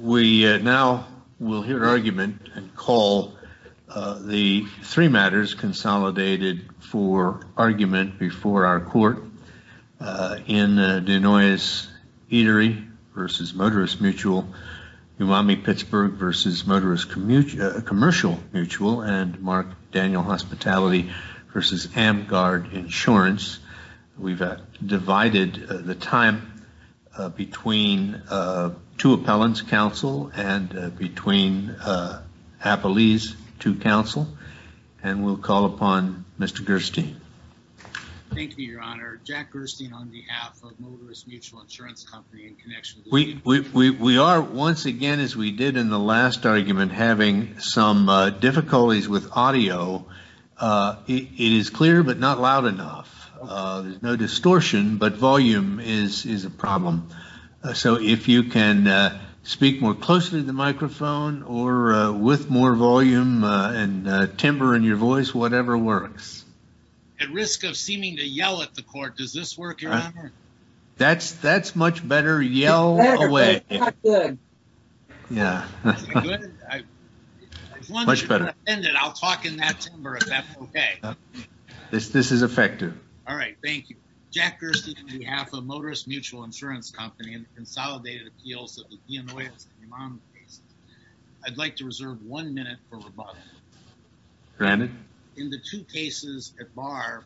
We now will hear argument and call the three matters consolidated for argument before our court in Dianoias Eatery v. Motorists Mutual, Umami Pittsburgh v. Motorists Commercial Mutual, and Mark Daniel Hospitality v. Amgard Insurance. We've divided the time between two appellants counsel and between appellees to counsel, and we'll call upon Mr. Gerstein. Thank you, your honor. Jack Gerstein on behalf of Motorists Mutual Insurance Company in connection with- We are once again, as we did in the last argument, having some difficulties with audio. It is clear, but not loud enough. There's no distortion, but volume is a problem. So if you can speak more closely to the microphone or with more volume and timbre in your voice, whatever works. At risk of seeming to yell at the court, does this work, your honor? That's much better. Yell away. Much better. If that's okay. This is effective. All right, thank you. Jack Gerstein on behalf of Motorists Mutual Insurance Company and the consolidated appeals of the Dianoias and Umami cases. I'd like to reserve one minute for rebuttal. Granted. In the two cases at bar,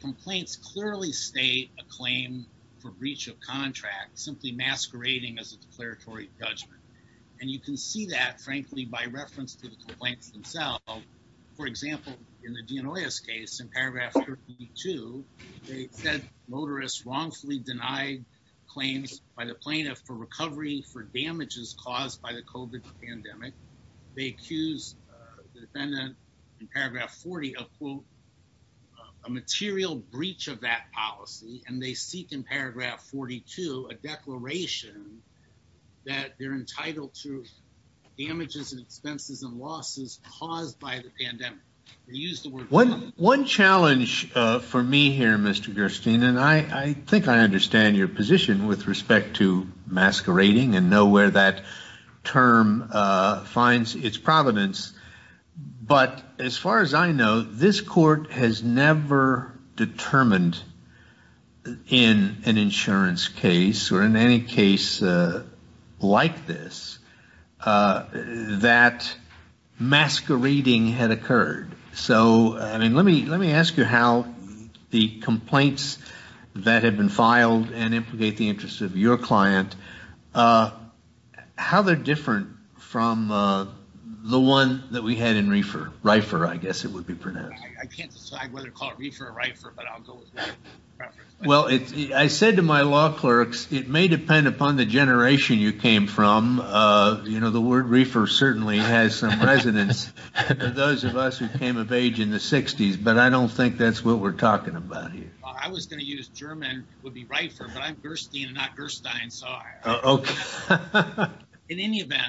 complaints clearly state a claim for breach of contract, simply masquerading as a declaratory judgment. And you can see that, frankly, by reference to the complaints themselves. For example, in the Dianoias case in paragraph 32, they said motorists wrongfully denied claims by the plaintiff for recovery for damages caused by the COVID pandemic. They accused the defendant in paragraph 40 of, quote, a material breach of that policy. And they seek in paragraph 42 a declaration that they're entitled to damages and expenses and losses caused by the pandemic. One challenge for me here, Mr. Gerstein, and I think I understand your position with respect to masquerading and know where that term finds its providence. But as far as I know, this court has never determined in an insurance case or in any case like this that masquerading had occurred. So, I mean, let me ask you how the complaints that had been filed and implicate the interest of your client, how they're different from the one that we had in Reifer, I guess it would be Reifer, but I'll go with Reifer. Well, I said to my law clerks, it may depend upon the generation you came from. You know, the word Reifer certainly has some resonance for those of us who came of age in the 60s. But I don't think that's what we're talking about here. I was going to use German would be Reifer, but I'm Gerstein and not Gerstein. So, in any event,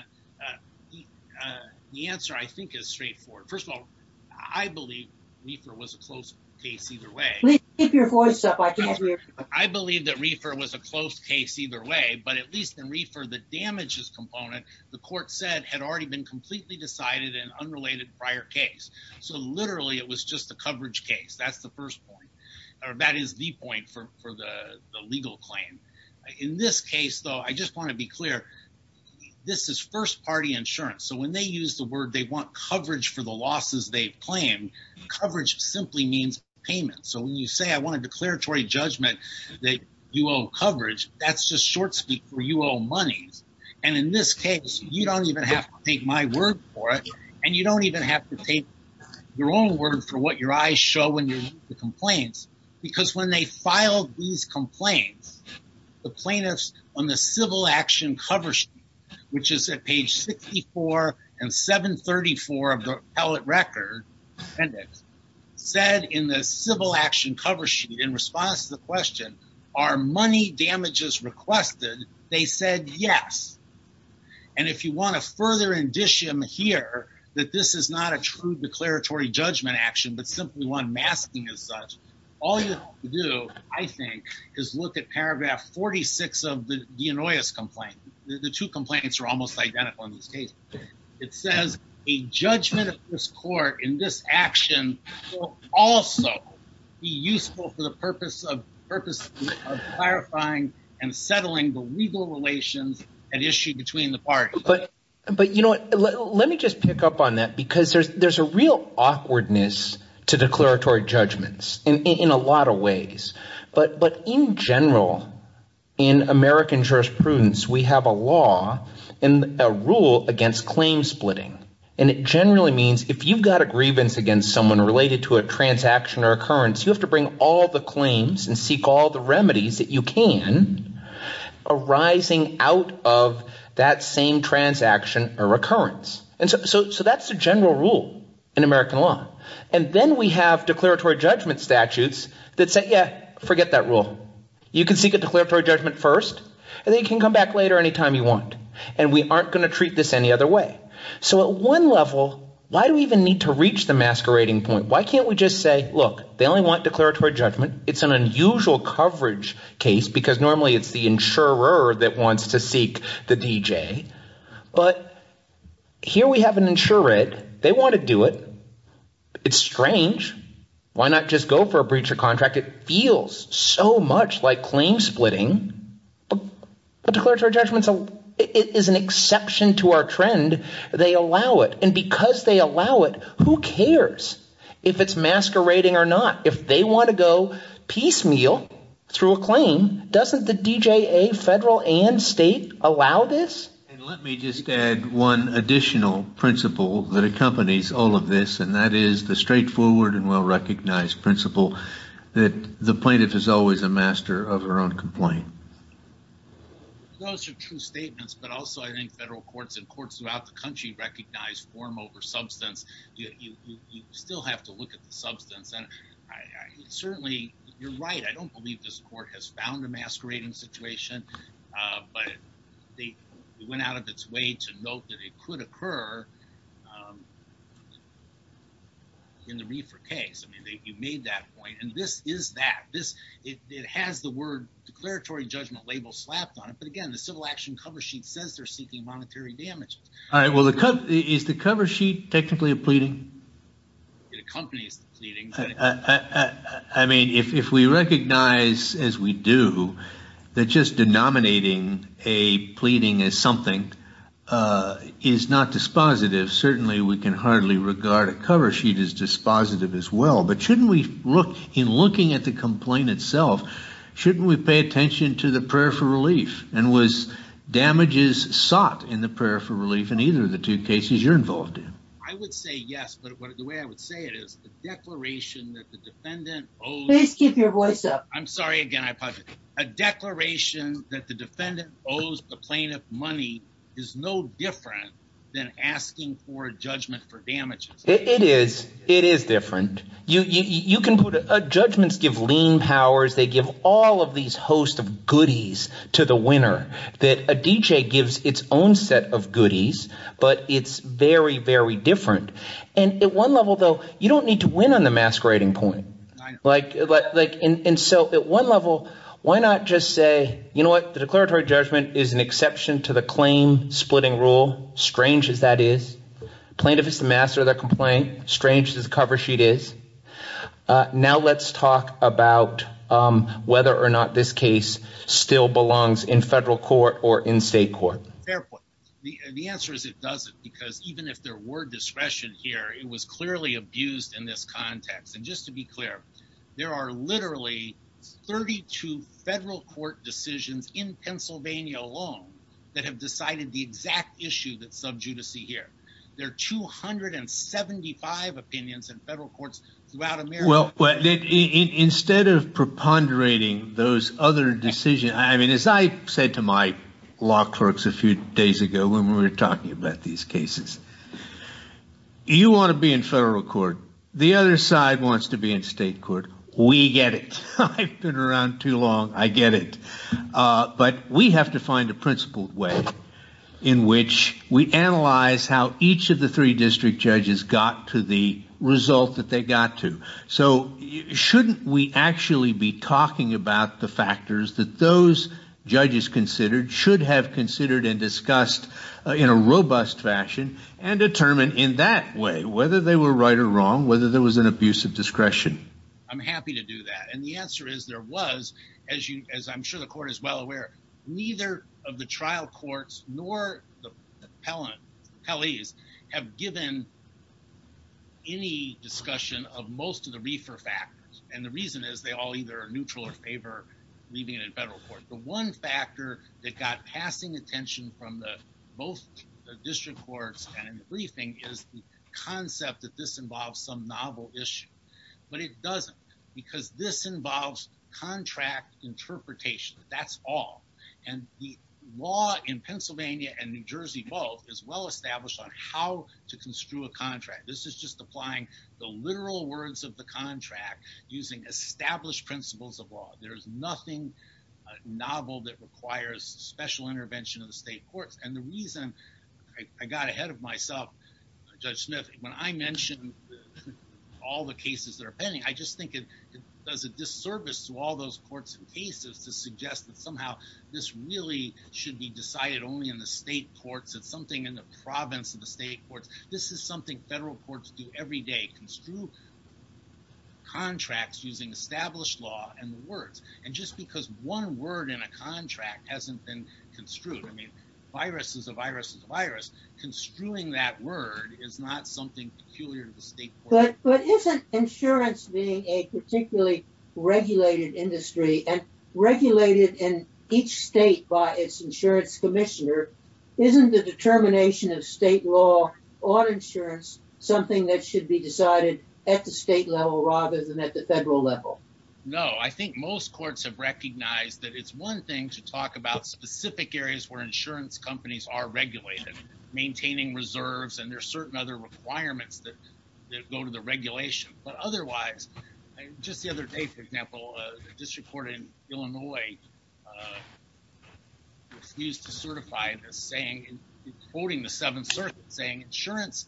the answer I think is straightforward. First of all, I believe Reifer was a close case either way. I believe that Reifer was a close case either way, but at least in Reifer, the damages component, the court said had already been completely decided in unrelated prior case. So, literally, it was just a coverage case. That's the first point, or that is the point for the legal claim. In this case, though, I just want to be clear. This is first party insurance. So, when they use the word they want coverage for the losses they've claimed, coverage simply means payment. So, when you say I want a declaratory judgment that you owe coverage, that's just short speak for you owe monies. And in this case, you don't even have to take my word for it, and you don't even have to take your own word for what your eyes show when you read the complaints. Because when they filed these complaints, the plaintiffs on the civil action cover sheet, which is at page 64 and 734 of the appellate record appendix, said in the civil action cover sheet in response to the question, are money damages requested? They said yes. And if you want a further indicium here that this is not a true declaratory judgment action, but simply one masking as such, all you have to do, I think, is look at paragraph 46 of the DeAnnoyis complaint. The two complaints are almost identical in this case. It says, a judgment of this court in this action will also be useful for the purpose of clarifying and settling the legal relations at issue between the parties. But you know what? Let me just pick up on that, because there's a real awkwardness to declaratory judgments in a lot of ways. But in general, in American jurisprudence, we have a law and a rule against claim splitting. And it generally means if you've got a grievance against someone related to a transaction or occurrence, you have to bring all the claims and seek all the remedies that you can arising out of that same transaction or occurrence. So that's the general rule in American law. And then we have declaratory judgment statutes that say, yeah, forget that rule. You can seek a declaratory judgment first, and then you can come back later any time you want. And we aren't going to treat this any other way. So at one level, why do we even need to reach the masquerading point? Why can't we just say, look, they only want declaratory judgment. It's an unusual coverage case, because normally it's the insurer that wants to seek the DJ. But here we have an insurer. They want to do it. It's strange. Why not just go for a breach of contract? It feels so much like claim splitting. But declaratory judgments is an exception to our trend. They allow it. And because they allow it, who cares if it's masquerading or not? If they want to go piecemeal through a claim, doesn't the DJA, federal and state, allow this? And let me just add one additional principle that accompanies all of this, and that is the straightforward and well-recognized principle that the plaintiff is always a master of her own complaint. Those are true statements. But also, I think federal courts and courts throughout the country recognize form over substance. You still have to look at the substance. And certainly, you're right. I don't believe this court has found a masquerading situation. But they went out of its way to note that it could occur in the reefer case. I mean, you made that point. And this is that. It has the word declaratory judgment label slapped on it. But again, the civil action cover sheet says they're seeking monetary damages. All right. Well, is the cover sheet technically a pleading? It accompanies the pleading. I mean, if we recognize, as we do, that just denominating a pleading as something is not dispositive, certainly we can hardly regard a cover sheet as dispositive as well. But shouldn't we look, in looking at the complaint itself, shouldn't we pay attention to the prayer for relief? And was damages sought in the prayer for relief in either of the two cases you're saying? Please keep your voice up. I'm sorry. Again, I apologize. A declaration that the defendant owes the plaintiff money is no different than asking for a judgment for damages. It is. It is different. Judgments give lien powers. They give all of these host of goodies to the winner that a DJ gives its own set of goodies. But it's very, very different. And at one level, though, you don't need to win on the masquerading point. And so at one level, why not just say, you know what, the declaratory judgment is an exception to the claim splitting rule, strange as that is. Plaintiff is the master of the complaint, strange as the cover sheet is. Now let's talk about whether or not this case still belongs in federal court or in state court. Fair point. The answer is it doesn't, because even if there were discretion here, it was clearly abused in this context. And just to be clear, there are literally 32 federal court decisions in Pennsylvania alone that have decided the exact issue that sub judice here. There are 275 opinions in federal courts throughout America. Instead of preponderating those other decisions, I mean, as I said to my law clerks a few days ago when we were talking about these cases, you want to be in federal court. The other side wants to be in state court. We get it. I've been around too long. I get it. But we have to find a principled way in which we analyze how each of the three district judges got to the result that they got to. So shouldn't we actually be talking about the factors that those judges considered should have considered and discussed in a robust fashion and determine in that way whether they were right or wrong, whether there was an abuse of discretion? I'm happy to do that. And the answer is there was, as I'm sure the court is well aware, neither of the trial courts nor the district courts. And the reason is they all either are neutral or favor leaving it in federal court. The one factor that got passing attention from the both the district courts and in the briefing is the concept that this involves some novel issue. But it doesn't because this involves contract interpretation. That's all. And the law in Pennsylvania and New Jersey both is well applying the literal words of the contract using established principles of law. There's nothing novel that requires special intervention of the state courts. And the reason I got ahead of myself, Judge Smith, when I mentioned all the cases that are pending, I just think it does a disservice to all those courts and cases to suggest that somehow this really should be decided only in the state courts. It's something in the province of the state courts. This is something federal courts do every day, construe contracts using established law and the words. And just because one word in a contract hasn't been construed. I mean, virus is a virus is a virus. Construing that word is not something peculiar to the state court. But isn't insurance being a particularly regulated industry and regulated in each state by its insurance commissioner? Isn't the determination of state law on insurance something that should be decided at the state level rather than at the federal level? No, I think most courts have recognized that it's one thing to talk about specific areas where insurance companies are regulated, maintaining reserves, and there are certain other requirements that go to the regulation. But otherwise, just the other day, for example, a district court in Illinois used to certify this saying, quoting the seven circuits saying insurance,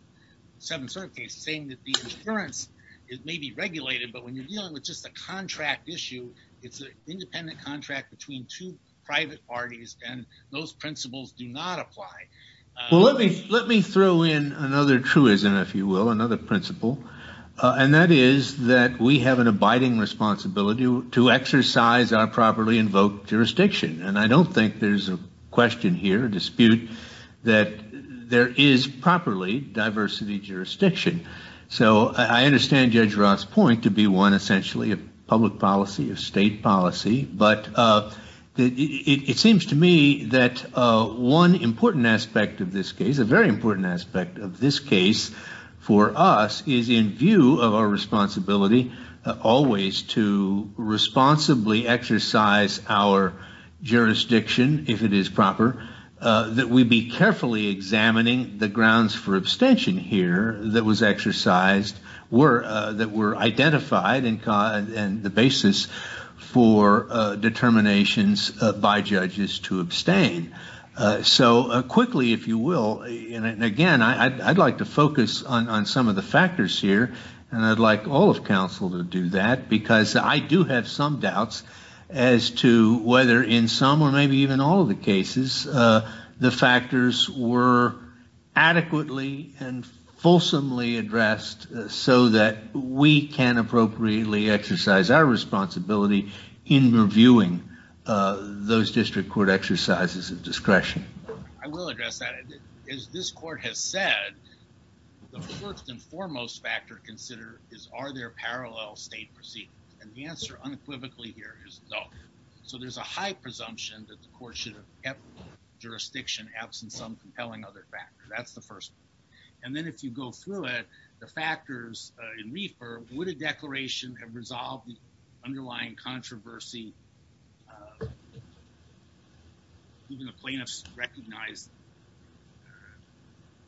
seven circuits saying that the insurance is maybe regulated. But when you're dealing with just a contract issue, it's an independent contract between two private parties. And those principles do not apply. Well, let me let me throw in another truism, if you will, another principle. And that is that we have an abiding responsibility to exercise our properly invoked jurisdiction. And I don't think there's a question here, a dispute that there is properly diversity jurisdiction. So I understand Judge Roth's point to be one essentially of public policy, of state policy. But it seems to me that one important aspect of this case, a very important aspect of this case for us is in view of our responsibility, always to responsibly exercise our jurisdiction, if it is proper, that we be carefully examining the grounds for abstention here that was exercised were that were identified and the basis for determinations by judges to I'd like to focus on some of the factors here. And I'd like all of counsel to do that, because I do have some doubts as to whether in some or maybe even all of the cases, the factors were adequately and fulsomely addressed so that we can appropriately exercise our responsibility in reviewing those district court exercises of discretion. I will address that. As this court has said, the first and foremost factor consider is are there parallel state proceedings? And the answer unequivocally here is no. So there's a high presumption that the court should have kept jurisdiction absent some compelling other factor. That's the first. And then if you go through it, the factors in reefer would a controversy. Even the plaintiffs recognize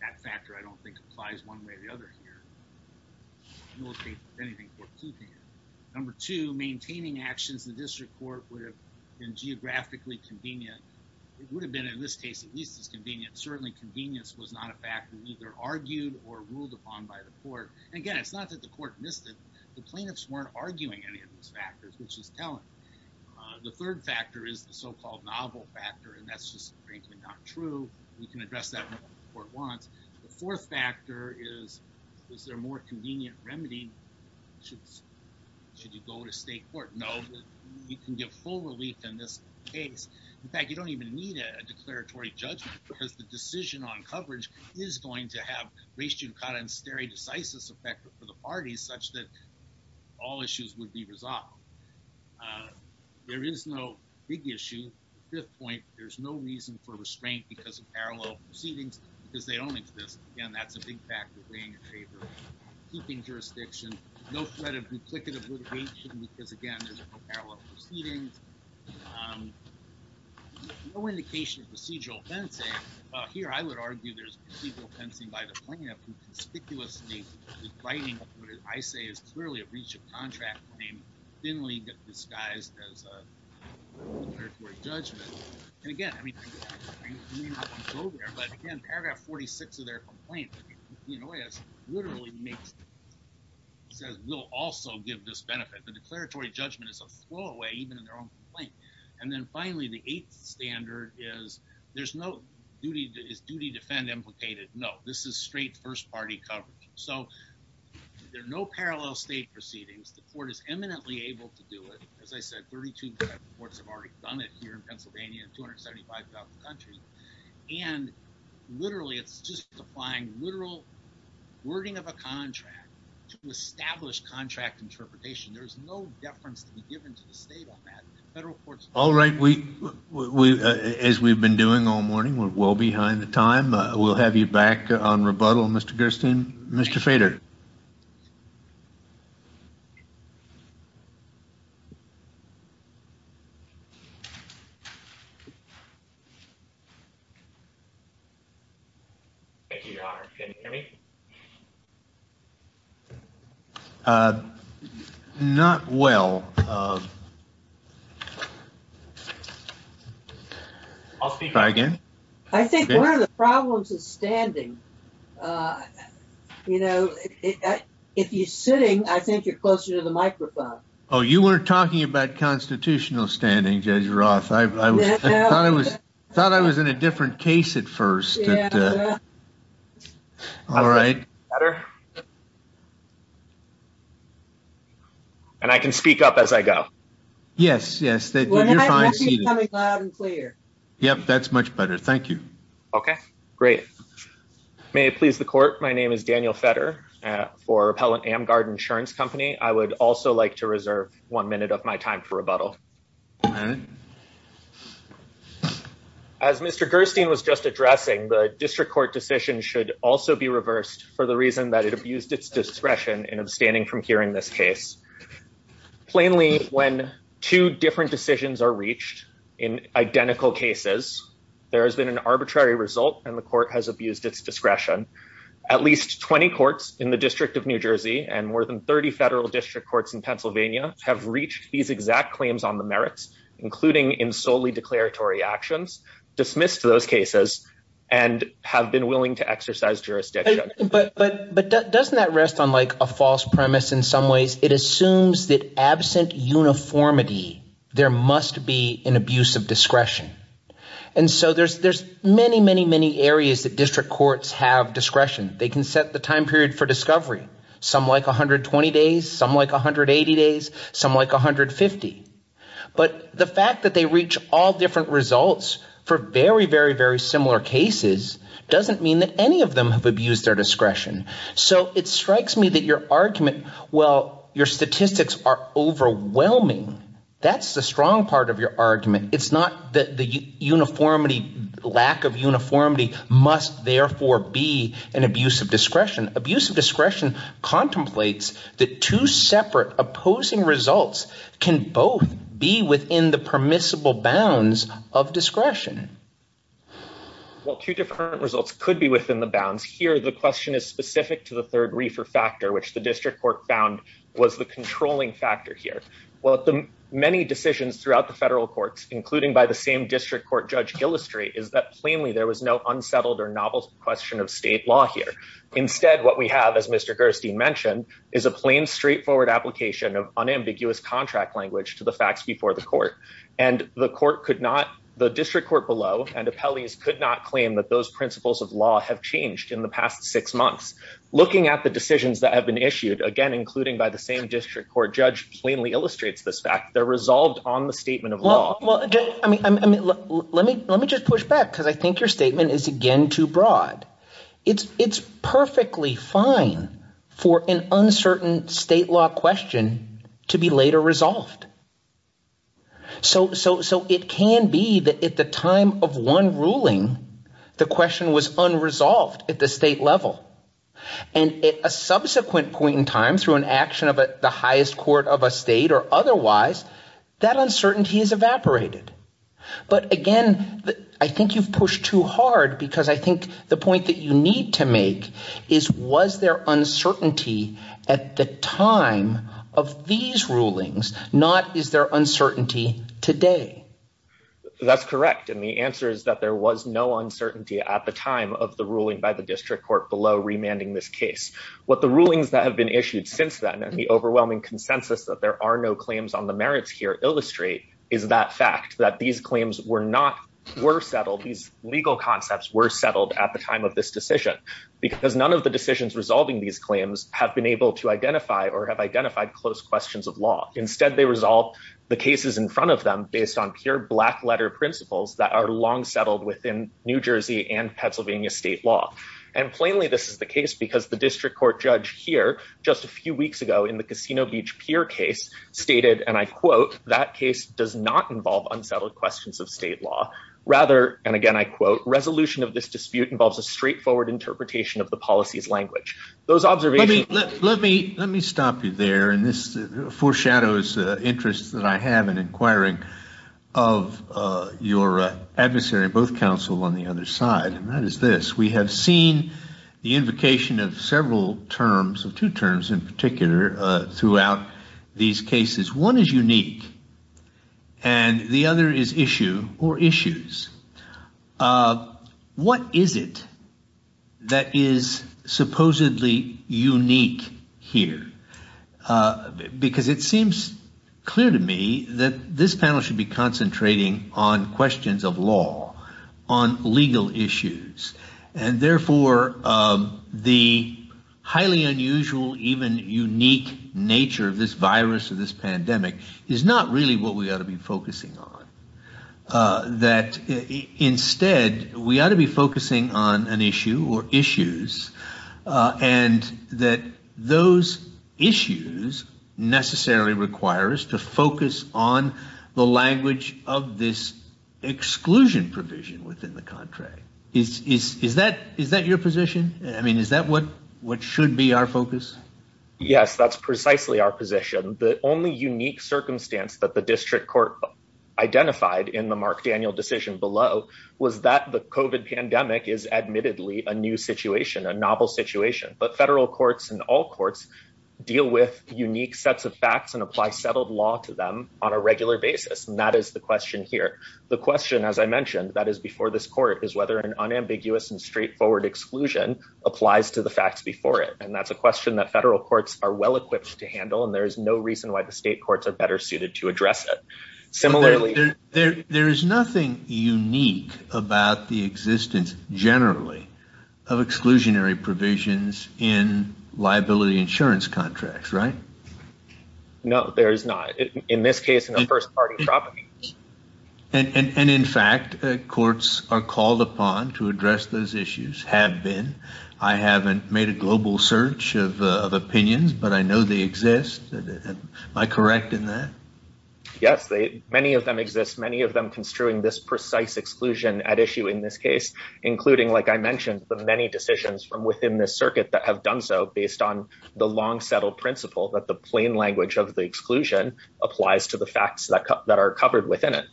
that factor, I don't think applies one way or the other here. Number two, maintaining actions, the district court would have been geographically convenient. It would have been in this case, at least as convenient. Certainly convenience was not a factor either argued or ruled upon by the court. And again, it's not that the court missed it. The plaintiffs weren't arguing any of those factors, which is telling. The third factor is the so-called novel factor. And that's just frankly not true. We can address that when the court wants. The fourth factor is, is there a more convenient remedy? Should you go to state court? No, you can give full relief in this case. In fact, you don't even need a declaratory judgment because the decision on coverage is going to have race judicata and all issues would be resolved. There is no big issue. Fifth point, there's no reason for restraint because of parallel proceedings because they don't exist. Again, that's a big factor weighing in favor, keeping jurisdiction, no threat of duplicative litigation, because again, there's no parallel proceedings, no indication of procedural fencing. Here, I would argue there's procedural breach of contract. I mean, thinly disguised as a declaratory judgment. And again, I mean, but again, paragraph 46 of their complaint, you know, it literally makes, says we'll also give this benefit. The declaratory judgment is a throwaway, even in their own complaint. And then finally, the eighth standard is there's no duty. Is duty defend implicated? No, this is straight first party coverage. So there are no parallel state proceedings. The court is eminently able to do it. As I said, 32 courts have already done it here in Pennsylvania and 275 throughout the country. And literally, it's just applying literal wording of a contract to establish contract interpretation. There's no deference to be given to the state on that. All right. We, as we've been doing all morning, we're well behind the time. We'll have you back on rebuttal, Mr. Gersten. Mr. Feder. Thank you, your honor. Can you hear me? Not well. I'll speak again. I think one of the problems is standing. You know, if you're sitting, I think you're closer to the microphone. Oh, you weren't talking about constitutional standing, Judge Roth. I thought I was in a different case at first. All right. And I can speak up as I go. Yes, yes. I can see you coming loud and clear. Yep, that's much better. Thank you. Okay, great. May it please the court, my name is Daniel Feder for Appellant Amgard Insurance Company. I would also like to reserve one minute of my time for rebuttal. As Mr. Gersten was just addressing, the district court decision should also be reversed for the reason that it abused its discretion in abstaining from hearing this case. Plainly, when two different decisions are reached in identical cases, there has been an arbitrary result and the court has abused its discretion. At least 20 courts in the District of New Jersey and more than 30 federal district courts in Pennsylvania have reached these exact claims on the merits, including in solely declaratory actions, dismissed those cases, and have been willing to exercise jurisdiction. But doesn't that rest on like a false premise in some ways? It assumes that there must be an abuse of discretion. And so there's many, many, many areas that district courts have discretion. They can set the time period for discovery. Some like 120 days, some like 180 days, some like 150. But the fact that they reach all different results for very, very, very similar cases doesn't mean that any of them have abused their discretion. So it strikes me that your argument, well, your statistics are overwhelming. That's the strong part of your argument. It's not that the uniformity, lack of uniformity, must therefore be an abuse of discretion. Abuse of discretion contemplates that two separate opposing results can both be within the permissible bounds of discretion. Well, two different results could be within the bounds. Here, the question is specific to the third reefer factor, which the district court found was the controlling factor here. Well, the many decisions throughout the federal courts, including by the same district court judge, Gillistrate, is that plainly there was no unsettled or novel question of state law here. Instead, what we have, as Mr. Gerstein mentioned, is a plain, straightforward application of unambiguous contract language to the facts before the court. And the court could not, the district court below and appellees could not claim that those principles of law have changed in the past six months. Looking at the decisions that have been issued, again, including by the district court judge, plainly illustrates this fact. They're resolved on the statement of law. Well, I mean, let me just push back because I think your statement is again too broad. It's perfectly fine for an uncertain state law question to be later resolved. So it can be that at the time of one ruling, the question was unresolved at the state level. And at a subsequent point in time through an action of the highest court of a state or otherwise, that uncertainty is evaporated. But again, I think you've pushed too hard because I think the point that you need to make is was there uncertainty at the time of these rulings, not is there uncertainty today? That's correct. And the answer is that there was no uncertainty at the time of the ruling by the district court below remanding this case. What the rulings that have been issued since then and the overwhelming consensus that there are no claims on the merits here illustrate is that fact that these claims were not were settled. These legal concepts were settled at the time of this decision because none of the decisions resolving these claims have been able to identify or have identified close questions of law. Instead, they resolve the cases in front of them based on pure black letter principles that are long settled within New Jersey and Pennsylvania state law. And plainly, this is the case because the district court judge here just a few weeks ago in the Casino Beach Pier case stated, and I quote, that case does not involve unsettled questions of state law rather. And again, I quote, resolution of this dispute involves a straightforward interpretation of the policy's language. Those observations. Let me let me let me stop you there. And this and that is this. We have seen the invocation of several terms of two terms in particular throughout these cases. One is unique and the other is issue or issues. What is it that is supposedly unique here? Because it seems clear to me that this panel should be concentrating on questions of law, on legal issues, and therefore the highly unusual, even unique nature of this virus or this pandemic is not really what we ought to be focusing on. That instead, we ought to be focusing on an issue or issues and that those issues necessarily require us to focus on the language of this exclusion provision within the contract. Is that is that your position? I mean, is that what what should be our focus? Yes, that's precisely our position. The only unique circumstance that the district court identified in the Mark Daniel decision below was that the covid pandemic is admittedly a new situation, a novel situation. But federal courts and all courts deal with unique sets of facts and apply settled law to them on a regular basis. And that is the question here. The question, as I mentioned, that is before this court is whether an unambiguous and straightforward exclusion applies to the facts before it. And that's a question that federal courts are well equipped to handle. And there is no reason why the state courts are better suited to address it. Similarly, there is nothing unique about the existence generally of exclusionary provisions in liability insurance contracts, right? No, there is not. In this case, in the first party. And in fact, courts are called upon to address those issues have been. I haven't made a global search of opinions, but I know they exist. Am I correct in that? Yes, they many of them exist, many of them construing this precise exclusion at issue in this case, including, like I mentioned, the many decisions from within the circuit that have done so based on the long settled principle that the plain language of the exclusion applies to the facts that that are covered within it.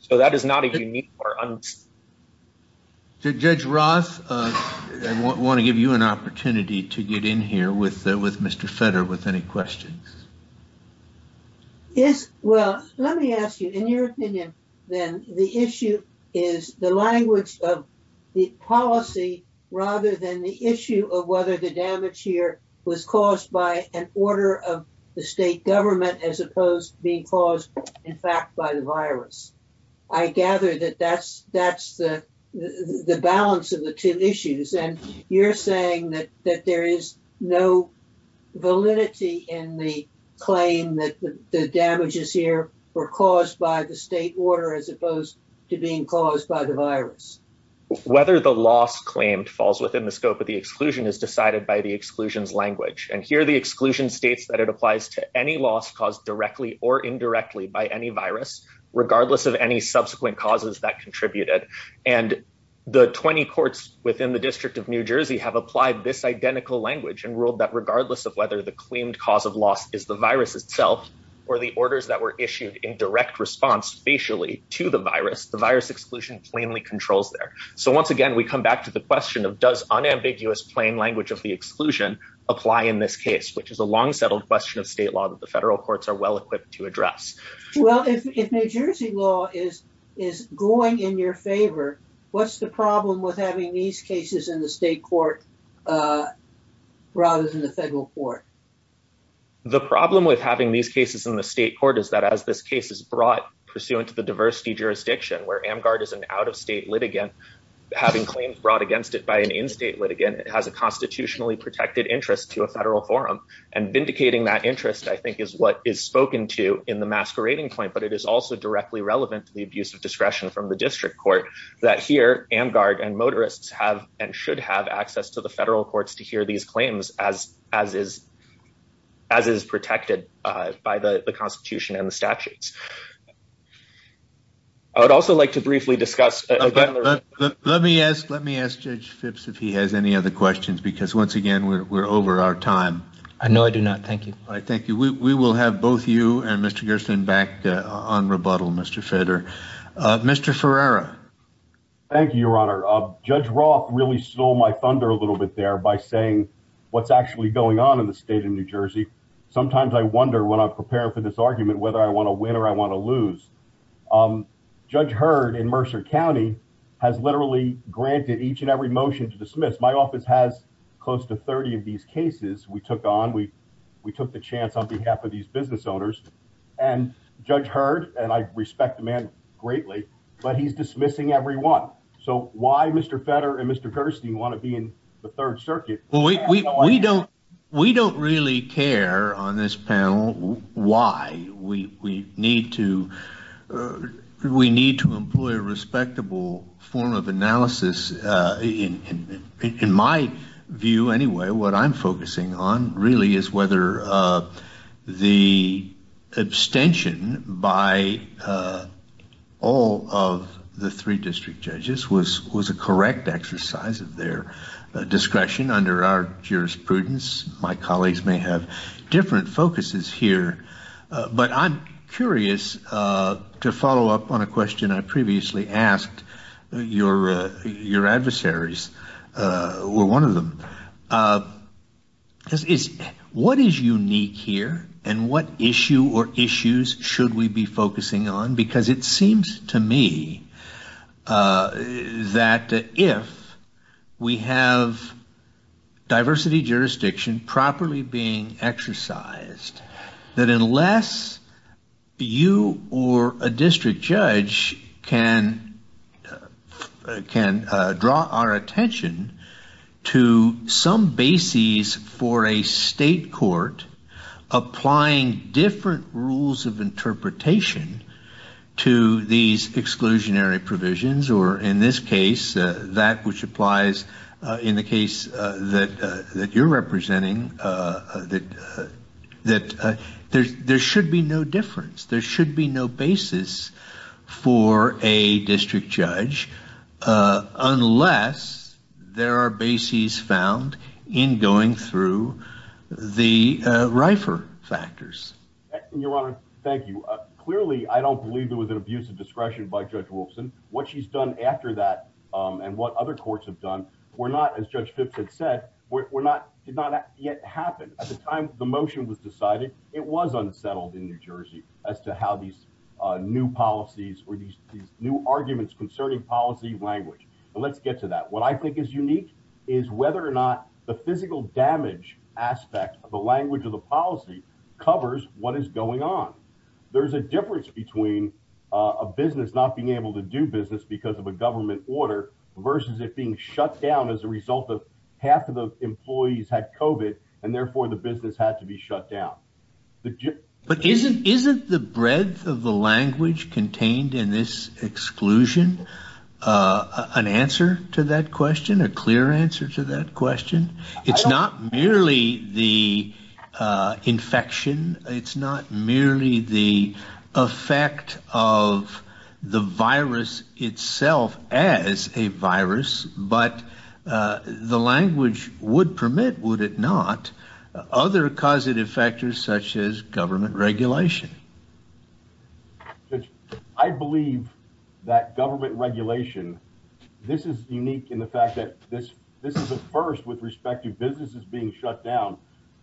So that is not a unique or. Judge Ross, I want to give you an opportunity to get in here with with Mr. Fetter with any questions. Yes, well, let me ask you, in your opinion, then the issue is the language of the policy rather than the issue of whether the damage here was caused by an order of the state government as opposed to being caused, in fact, by the virus. I gather that that's that's the balance of the two issues. And you're saying that that there is no validity in the claim that the damages here were caused by the state order as opposed to being caused by the virus. Whether the loss claimed falls within the scope of the exclusion is decided by the exclusion's language. And here the exclusion states that it applies to any loss caused directly or indirectly by any virus, regardless of any subsequent causes that contributed. And the 20 courts within the District of New Jersey have applied this is the virus itself or the orders that were issued in direct response spatially to the virus. The virus exclusion plainly controls there. So once again, we come back to the question of does unambiguous plain language of the exclusion apply in this case, which is a long settled question of state law that the federal courts are well equipped to address. Well, if New Jersey law is is going in your favor, what's the problem with having these cases in the state court rather than the federal court? The problem with having these cases in the state court is that as this case is brought pursuant to the diversity jurisdiction where Amgard is an out of state litigant, having claims brought against it by an in-state litigant, it has a constitutionally protected interest to a federal forum. And vindicating that interest, I think, is what is spoken to in the masquerading point. But it is also directly relevant to the abuse of discretion from the district court that here, Amgard and motorists have and should have access to the federal courts to hear these claims as is protected by the constitution and the statutes. I would also like to briefly discuss. Let me ask Judge Phipps if he has any other questions because once again, we're over our time. I know I do not. Thank you. Thank you. We will have both you and Mr. Gerstin back on rebuttal, Mr. Fedder. Mr. Ferreira. Thank you, Your Honor. Judge Roth really stole my thunder a little bit there by saying what's actually going on in the state of New Jersey. Sometimes I wonder when I prepare for this argument whether I want to win or I want to lose. Judge Hurd in Mercer County has literally granted each and every motion to dismiss. My office has close to 30 of these cases we took on. We took the chance on behalf of these business owners. And Judge Hurd, and I respect the man greatly, but he's dismissing everyone. So why Mr. Fedder and Mr. Gerstin want to be in the third circuit? We don't really care on this panel why. We need to employ a respectable form of analysis. In my view anyway, what I'm focusing on really is whether the abstention by all of the three district judges was a correct exercise of their discretion under our jurisprudence. My colleagues may have different focuses here, but I'm curious to follow up on a question I previously asked. Your adversaries were one of them. What is unique here and what or issues should we be focusing on? Because it seems to me that if we have diversity jurisdiction properly being exercised, that unless you or a district judge can draw our attention to some basis for a state court applying different rules of interpretation to these exclusionary provisions, or in this case, that which applies in the case that you're representing, that there should be no difference. There should be no basis for a district judge unless there are bases found in going through the rifer factors. Your Honor, thank you. Clearly, I don't believe it was an abuse of discretion by Judge Wolfson. What she's done after that and what other courts have done were not, as Judge Phipps had said, did not yet happen. At the time the motion was decided, it was unsettled in New Jersey as to how these new policies or these new arguments concerning policy language. Let's get to that. What I think is unique is whether or not the physical damage aspect of the language of the policy covers what is going on. There's a difference between a business not being able to do business because of a government order versus it being shut down as a result of half of the employees had COVID and therefore the business had to be shut down. But isn't the breadth of the language contained in this exclusion an answer to that question, a clear answer to that question? It's not merely the infection. It's not merely the effect of the virus itself as a virus, but the language would permit, would it not, other causative factors such as government regulation. Judge, I believe that government regulation, this is unique in the fact that this is a first with respect to businesses being shut down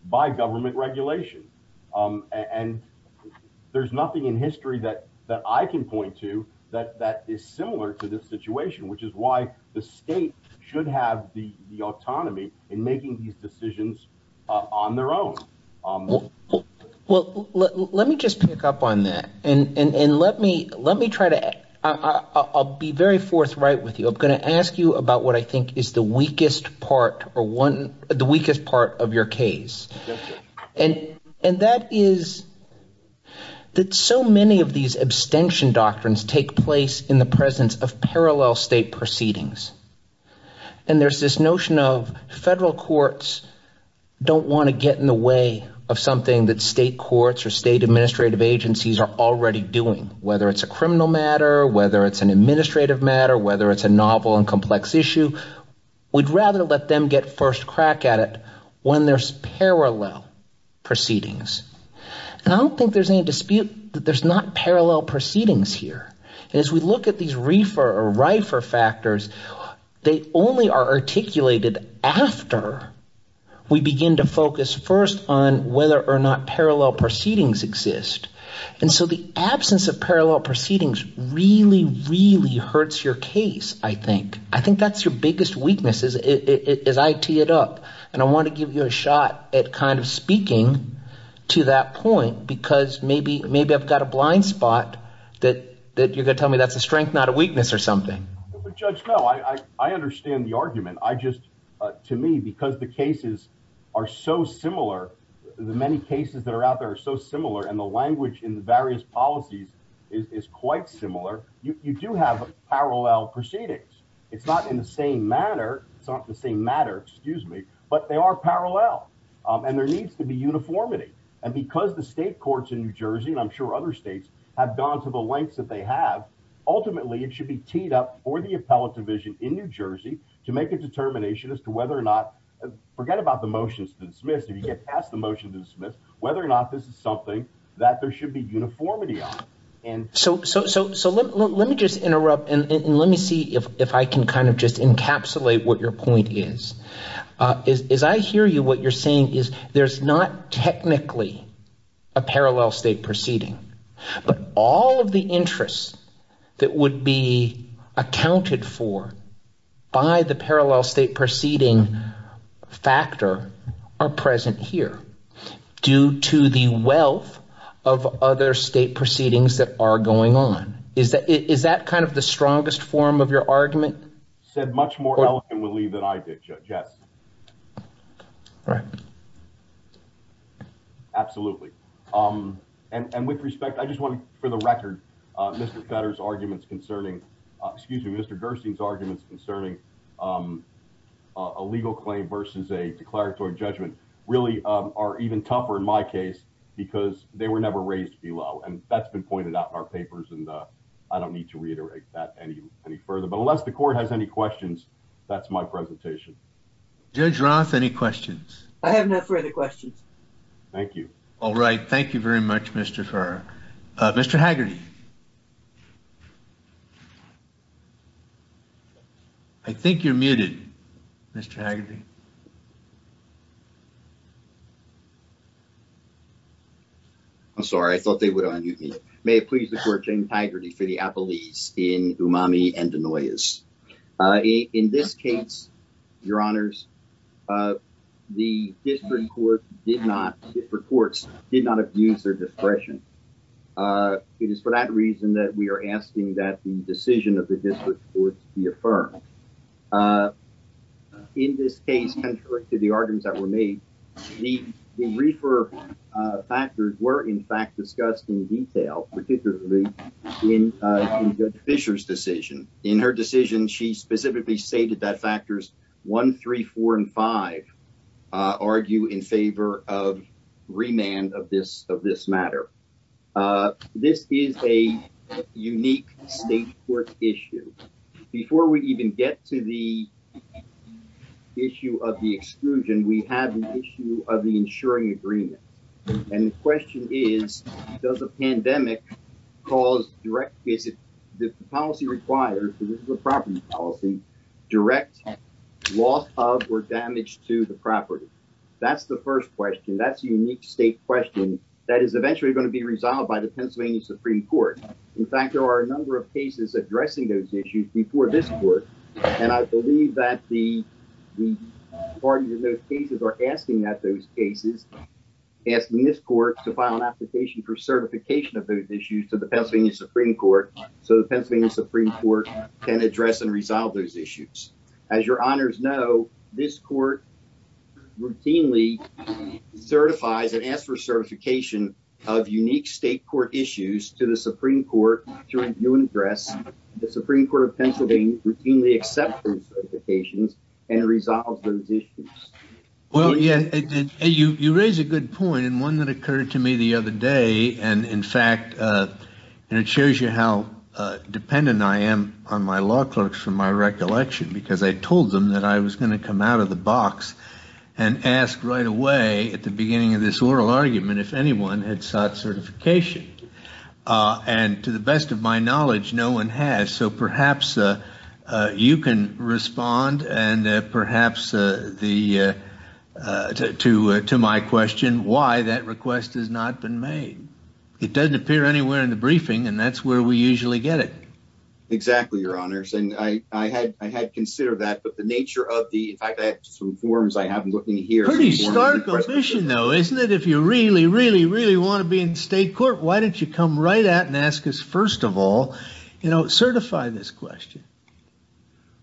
by government regulation. And there's nothing in history that I can point to that is similar to this situation, which is why the state should have the autonomy in making these decisions on their own. Well, let me just pick up on that and let me try to, I'll be very forthright with you. I'm going to ask you about what I think is the weakest part or the weakest part of your case. And that is that so many of these abstention doctrines take place in the presence of parallel state proceedings and there's this notion of federal courts don't want to get in the way of something that state courts or state administrative agencies are already doing, whether it's a criminal matter, whether it's an administrative matter, whether it's a novel and complex issue. We'd rather let them get first crack at it when there's parallel proceedings. And I don't think there's any dispute that there's not parallel proceedings here. And as we look at these rifer factors, they only are articulated after we begin to focus first on whether or not parallel proceedings exist. And so the absence of parallel proceedings really, really hurts your case. I think that's your biggest weakness as I tee it up. And I want to give you a shot at kind of speaking to that point, because maybe I've got a blind spot that you're going to tell me that's a weakness or something. Judge, no, I understand the argument. I just to me, because the cases are so similar, the many cases that are out there are so similar. And the language in the various policies is quite similar. You do have parallel proceedings. It's not in the same manner. It's not the same matter, excuse me, but they are parallel and there needs to be uniformity. And because the state courts in New Jersey and I'm sure other states have gone to the lengths that they have, ultimately, it should be teed up for the appellate division in New Jersey to make a determination as to whether or not forget about the motions to dismiss if you get past the motion to dismiss whether or not this is something that there should be uniformity on. And so let me just interrupt and let me see if I can kind of just encapsulate what your point is. As I hear you, you're saying is there's not technically a parallel state proceeding, but all of the interests that would be accounted for by the parallel state proceeding factor are present here due to the wealth of other state proceedings that are going on. Is that kind of the strongest form of your argument? Said much more eloquently than I did. Yes. Right. Absolutely. And with respect, I just want for the record, Mr. Fetter's arguments concerning excuse me, Mr. Gerstein's arguments concerning a legal claim versus a declaratory judgment really are even tougher in my case because they were never raised below. And that's been pointed out in our papers. And I don't need to reiterate that any further. But unless the court has any questions, that's my presentation. Judge Roth, any questions? I have no further questions. Thank you. All right. Thank you very much, Mr. Farr. Mr. Haggerty. I think you're muted, Mr. Haggerty. I'm sorry. I thought they would unmute me. May it please the court, James Haggerty for the appellees in Umami and Denoyas. In this case, your honors, the district court did not, district courts did not abuse their discretion. It is for that reason that we are asking that the decision of the district courts be affirmed. In this case, the district court did not abuse the discretion. In this case, contrary to the arguments that were made, the reefer factors were in fact discussed in detail, particularly in Judge Fisher's decision. In her decision, she specifically stated that factors 1, 3, 4, and 5 argue in favor of remand of this matter. Uh, this is a unique state court issue. Before we even get to the issue of the exclusion, we have an issue of the insuring agreement. And the question is, does a pandemic cause direct, is it the policy requires, because this is a property policy, direct loss of or damage to the property? That's the first question. That's a unique state question that is eventually going to be resolved by the Pennsylvania Supreme Court. In fact, there are a number of cases addressing those issues before this court. And I believe that the, the parties in those cases are asking that those cases, asking this court to file an application for certification of those issues to the Pennsylvania Supreme Court so the Pennsylvania Supreme Court can address and resolve those issues. As your honors know, this court routinely certifies and asks for certification of unique state court issues to the Supreme Court to review and address. The Supreme Court of Pennsylvania routinely accepts those certifications and resolves those issues. Well, yeah, you, you raise a good point and one that occurred to me the other day. And in fact, uh, and it shows you how dependent I am on my law clerks from my recollection, because I told them that I was going to come out of the box and ask right away at the beginning of this oral argument, if anyone had sought certification, uh, and to the best of my knowledge, no one has. So perhaps, uh, uh, you can respond and, uh, perhaps, uh, the, uh, to, to my question, why that request has not been made. It doesn't appear anywhere in the briefing and that's where we usually get it. Exactly, your honors. And I, I had, I had considered that, but the nature of the, in fact, I had some forms I haven't looked in here. Pretty stark omission though, isn't it? If you really, really, really want to be in state court, why don't you come right out and ask us, first of all, you know, certify this question.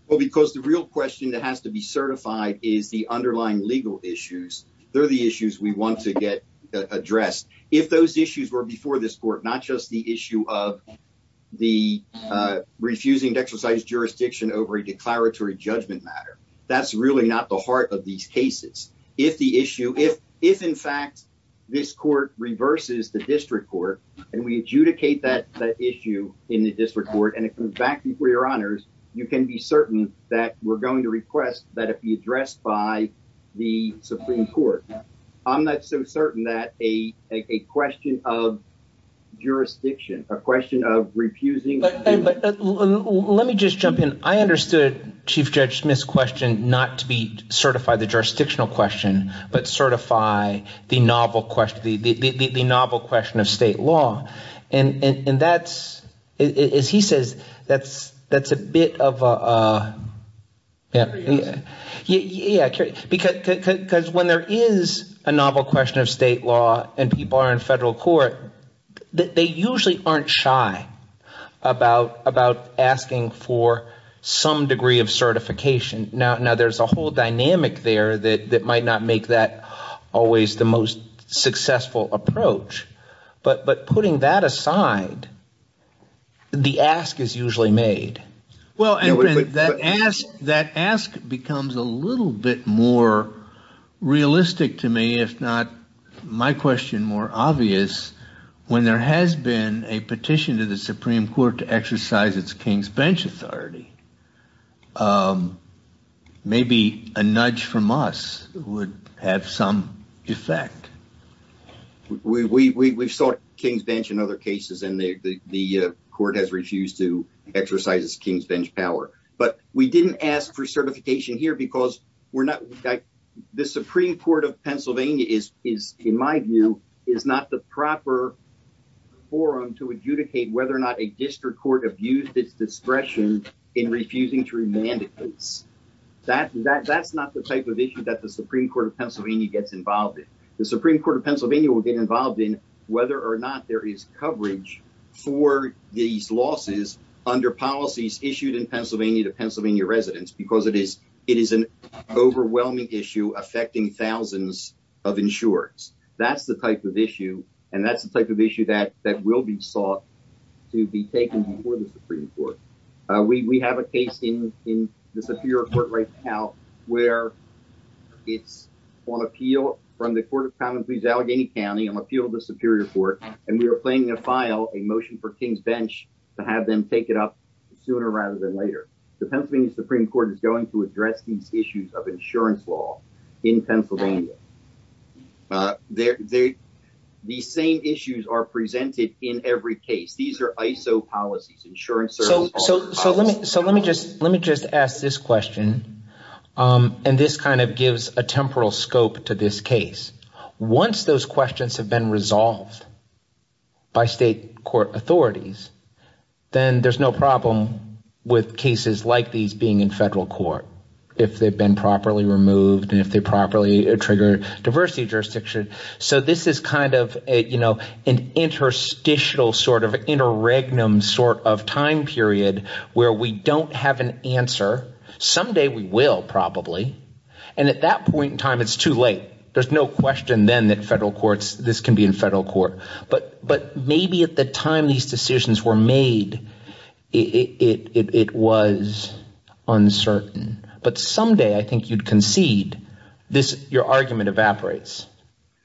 Well, because the real question that has to be certified is the underlying legal issues. They're the issues we want to get addressed. If those issues were before this court, not just the issue of the, uh, refusing to exercise jurisdiction over a declaratory judgment matter, that's really not the heart of these cases. If the issue, if, if in fact this court reverses the district court and we adjudicate that issue in the district court and it comes back before your honors, you can be certain that we're going to request that it be addressed by the Supreme Court. I'm not so certain that a, a question of jurisdiction, a question of refusing. Let me just jump in. I understood Chief Judge Smith's question, not to be certify the jurisdictional question, but certify the novel question, the, the, the, the, the novel question of state law. And, and, and that's, as he says, that's, that's a bit of a, uh, yeah. Yeah. Because when there is a novel question of state law and people are in federal court, they usually aren't shy about, about asking for some degree of certification. Now, now there's a whole dynamic there that, that might not make that always the most successful approach, but, but putting that aside, the ask is usually made. Well, and that ask, that ask becomes a little bit more realistic to me, if not my question more obvious, when there has been a petition to the Supreme Court to exercise its King's bench authority, um, maybe a nudge from us would have some effect. We, we, we, we've sought King's bench in other cases and the, the, the, uh, court has refused to exercise its King's bench power, but we didn't ask for certification here because we're not, the Supreme Court of Pennsylvania is, is in my view, is not the proper forum to adjudicate whether or not a district court abused its discretion in refusing to remand it. That, that, that's not the type of issue that the Supreme Court of Pennsylvania gets involved in. The Supreme Court of Pennsylvania will get involved in whether or not there is coverage for these losses under policies issued in Pennsylvania to Pennsylvania residents, because it is, it is an overwhelming issue affecting thousands of insurers. That's the type of issue. And that's the type of issue that, that will be sought to be taken before the Supreme Court. Uh, we, we have a case in, in the Superior Court right now, where it's on appeal from the Court of Common Pleas Allegheny County on appeal to the Superior Court. And we were planning to file a motion for King's bench to have them take it up sooner rather than later. The Pennsylvania Supreme Court is going to address these issues of insurance law in Pennsylvania. Uh, they're, they, these same issues are presented in every case. These are ISO policies, insurance services. So, so, so let me, so let me just, let me just ask this question. Um, and this kind of gives a temporal scope to this case. Once those questions have been resolved by state court authorities, then there's no problem with cases like these being in federal court, if they've been properly removed and if they properly trigger diversity jurisdiction. So this is kind of a, you know, an interstitial sort of interregnum sort of time period where we don't have an answer. Someday we will probably. And at that point in time, it's too late. There's no question then that federal courts, this can be in federal court, but, but maybe at the time these decisions were made, it, it, it, it was uncertain, but someday I think you'd concede this, your argument evaporates.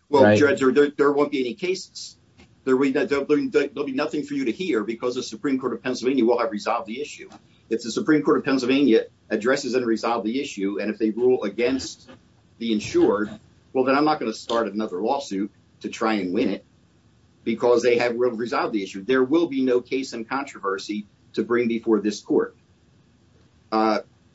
Well, judge, there won't be any cases. There'll be nothing for you to hear because the Supreme Court of Pennsylvania will have resolved the issue. If the Supreme Court of Pennsylvania addresses and resolve the issue. And if they rule against the insured, well, then I'm not going to start another lawsuit to try and win it because they have resolved the issue. There will be no case in controversy to bring before this court.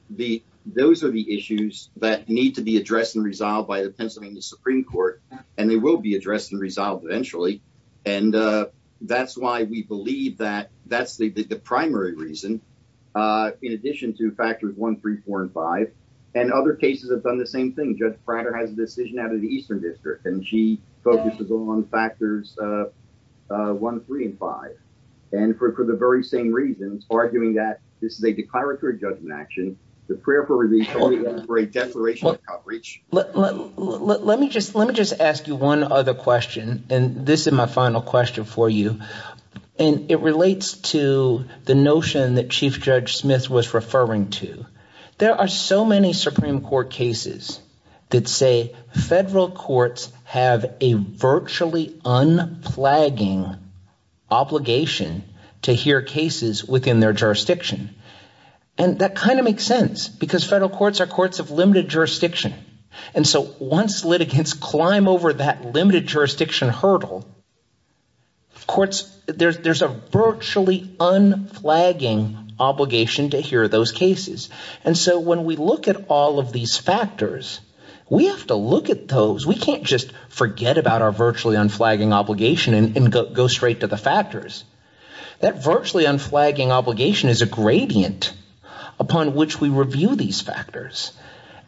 The, those are the issues that need to be addressed and resolved by the Pennsylvania Supreme Court. And they will be addressed and resolved eventually. And that's why we believe that that's the primary reason in addition to factors one, three, four, and five, and other cases have done the same thing. Judge Prater has a decision out of the Eastern district and she focuses on factors one, three, and five. And for, for the very same reasons, arguing that this is a declaratory judgment action, the prayer for release only for a declaration of coverage. Let me just, let me just ask you one other question. And this is my final question for you. And it relates to the notion that Chief Judge Smith was referring to. There are so many Supreme Court cases that say federal courts have a virtually unflagging obligation to hear cases within their jurisdiction. And that kind of makes sense because federal courts are courts of limited jurisdiction. And so once litigants climb over that limited jurisdiction hurdle, courts, there's, there's a virtually unflagging obligation to hear those cases. And so when we look at all of these factors, we have to look at those. We can't just forget about our virtually unflagging obligation and go straight to the factors. That virtually unflagging obligation is a gradient upon which we review these factors.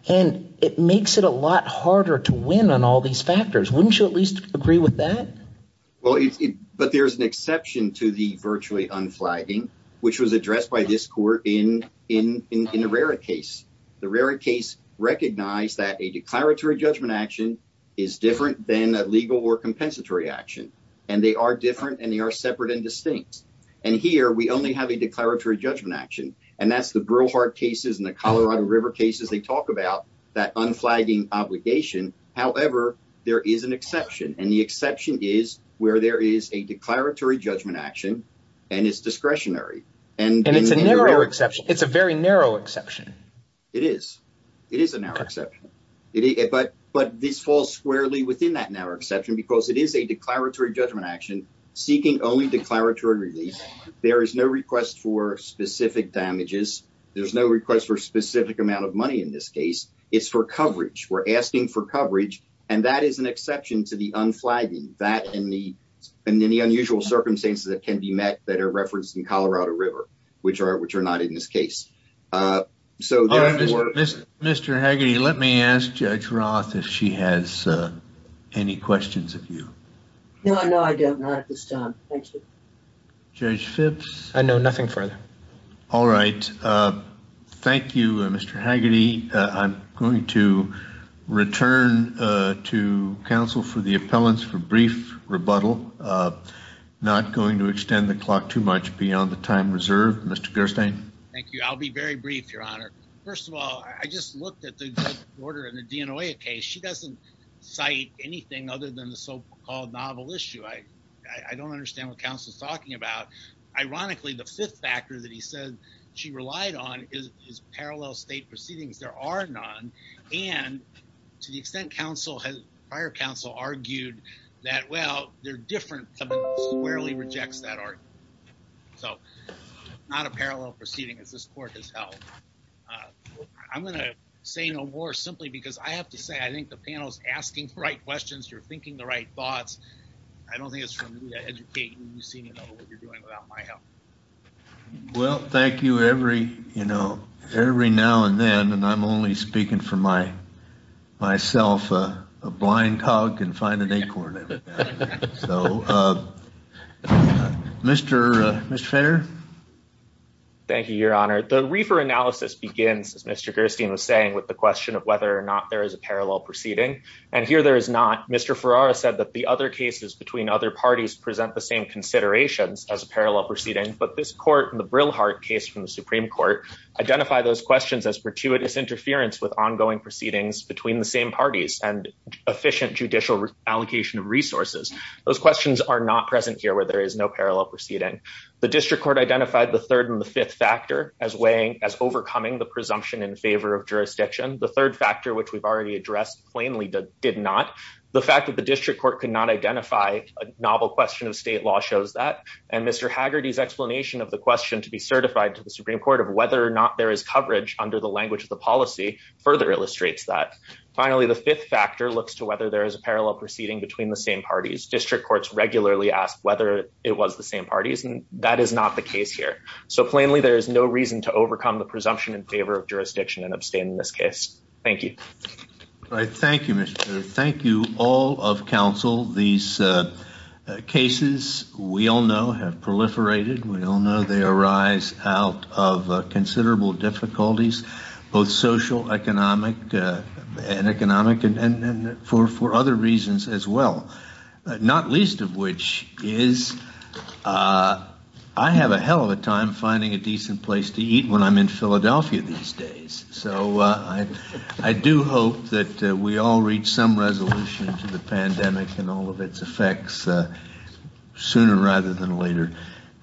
And it makes it a lot harder to win on all these factors. Wouldn't you at least agree with that? Well, but there's an exception to the virtually unflagging, which was addressed by this court in, in, in, in the Rarit case. The Rarit case recognized that a declaratory judgment action is different than a legal or compensatory action. And they are different and they are separate and distinct. And here we only have a declaratory judgment action. And that's the Burlhart cases and the Colorado River cases they talk about that unflagging obligation. However, there is an exception and the exception is where there is a discretionary. And it's a narrow exception. It's a very narrow exception. It is. It is a narrow exception. But, but this falls squarely within that narrow exception because it is a declaratory judgment action seeking only declaratory release. There is no request for specific damages. There's no request for specific amount of money in this case. It's for coverage. We're asking for coverage and that is an exception to the unflagging that in the, in the unusual circumstances that can be met that are referenced in Colorado River, which are, which are not in this case. So, Mr. Haggerty, let me ask Judge Roth if she has any questions of you. No, no, I don't. Not at this time. Thank you. Judge Phipps. I know nothing further. All right. Thank you, Mr. Haggerty. I'm going to return to counsel for the appellants for brief rebuttal. Not going to extend the clock too much beyond the time reserved. Mr. Gerstein. Thank you. I'll be very brief, your honor. First of all, I just looked at the order in the DNOIA case. She doesn't cite anything other than the so-called novel issue. I, I don't understand what counsel is talking about. Ironically, the fifth factor that he said she relied on is, is parallel state proceedings. There are none. And to the extent counsel has, prior counsel argued that, well, they're different. Someone squarely rejects that argument. So, not a parallel proceeding as this court has held. I'm going to say no more simply because I have to say, I think the panel is asking the right questions. You're thinking the right thoughts. I don't think it's for me to educate when you see what you're doing without my help. Well, thank you. Every, you know, every now and then, and I'm only speaking for my, myself, a blind dog can find an acorn. So, Mr. Fainter. Thank you, your honor. The reefer analysis begins, as Mr. Gerstein was saying, with the question of whether or not there is a parallel proceeding. And here there is not. Mr. Ferrara said that the other cases between other parties present the same considerations as a parallel proceeding. But this court and the Brillhardt case from the Supreme Court identify those questions as gratuitous interference with ongoing proceedings between the same parties and efficient judicial allocation of resources. Those questions are not present here where there is no parallel proceeding. The district court identified the third and the fifth factor as weighing, as overcoming the presumption in favor of jurisdiction. The third factor, which we've already addressed plainly, did not. The fact that the district court could not identify a novel question of state law shows that. And Mr. Haggerty's explanation of question to be certified to the Supreme Court of whether or not there is coverage under the language of the policy further illustrates that. Finally, the fifth factor looks to whether there is a parallel proceeding between the same parties. District courts regularly ask whether it was the same parties, and that is not the case here. So, plainly, there is no reason to overcome the presumption in favor of jurisdiction and abstain in this case. Thank you. All right. Thank you, Mr. Gerstein. Thank you, all of counsel. These cases, we all know, have proliferated. We all know they arise out of considerable difficulties, both social, economic, and for other reasons as well. Not least of which is, I have a hell of a time finding a decent place to eat when I'm in Philadelphia these days. So, I do hope that we all reach some resolution to the pandemic and all of its effects sooner rather than later.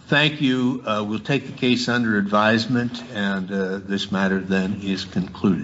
Thank you. We'll take the case under advisement, and this matter then is concluded.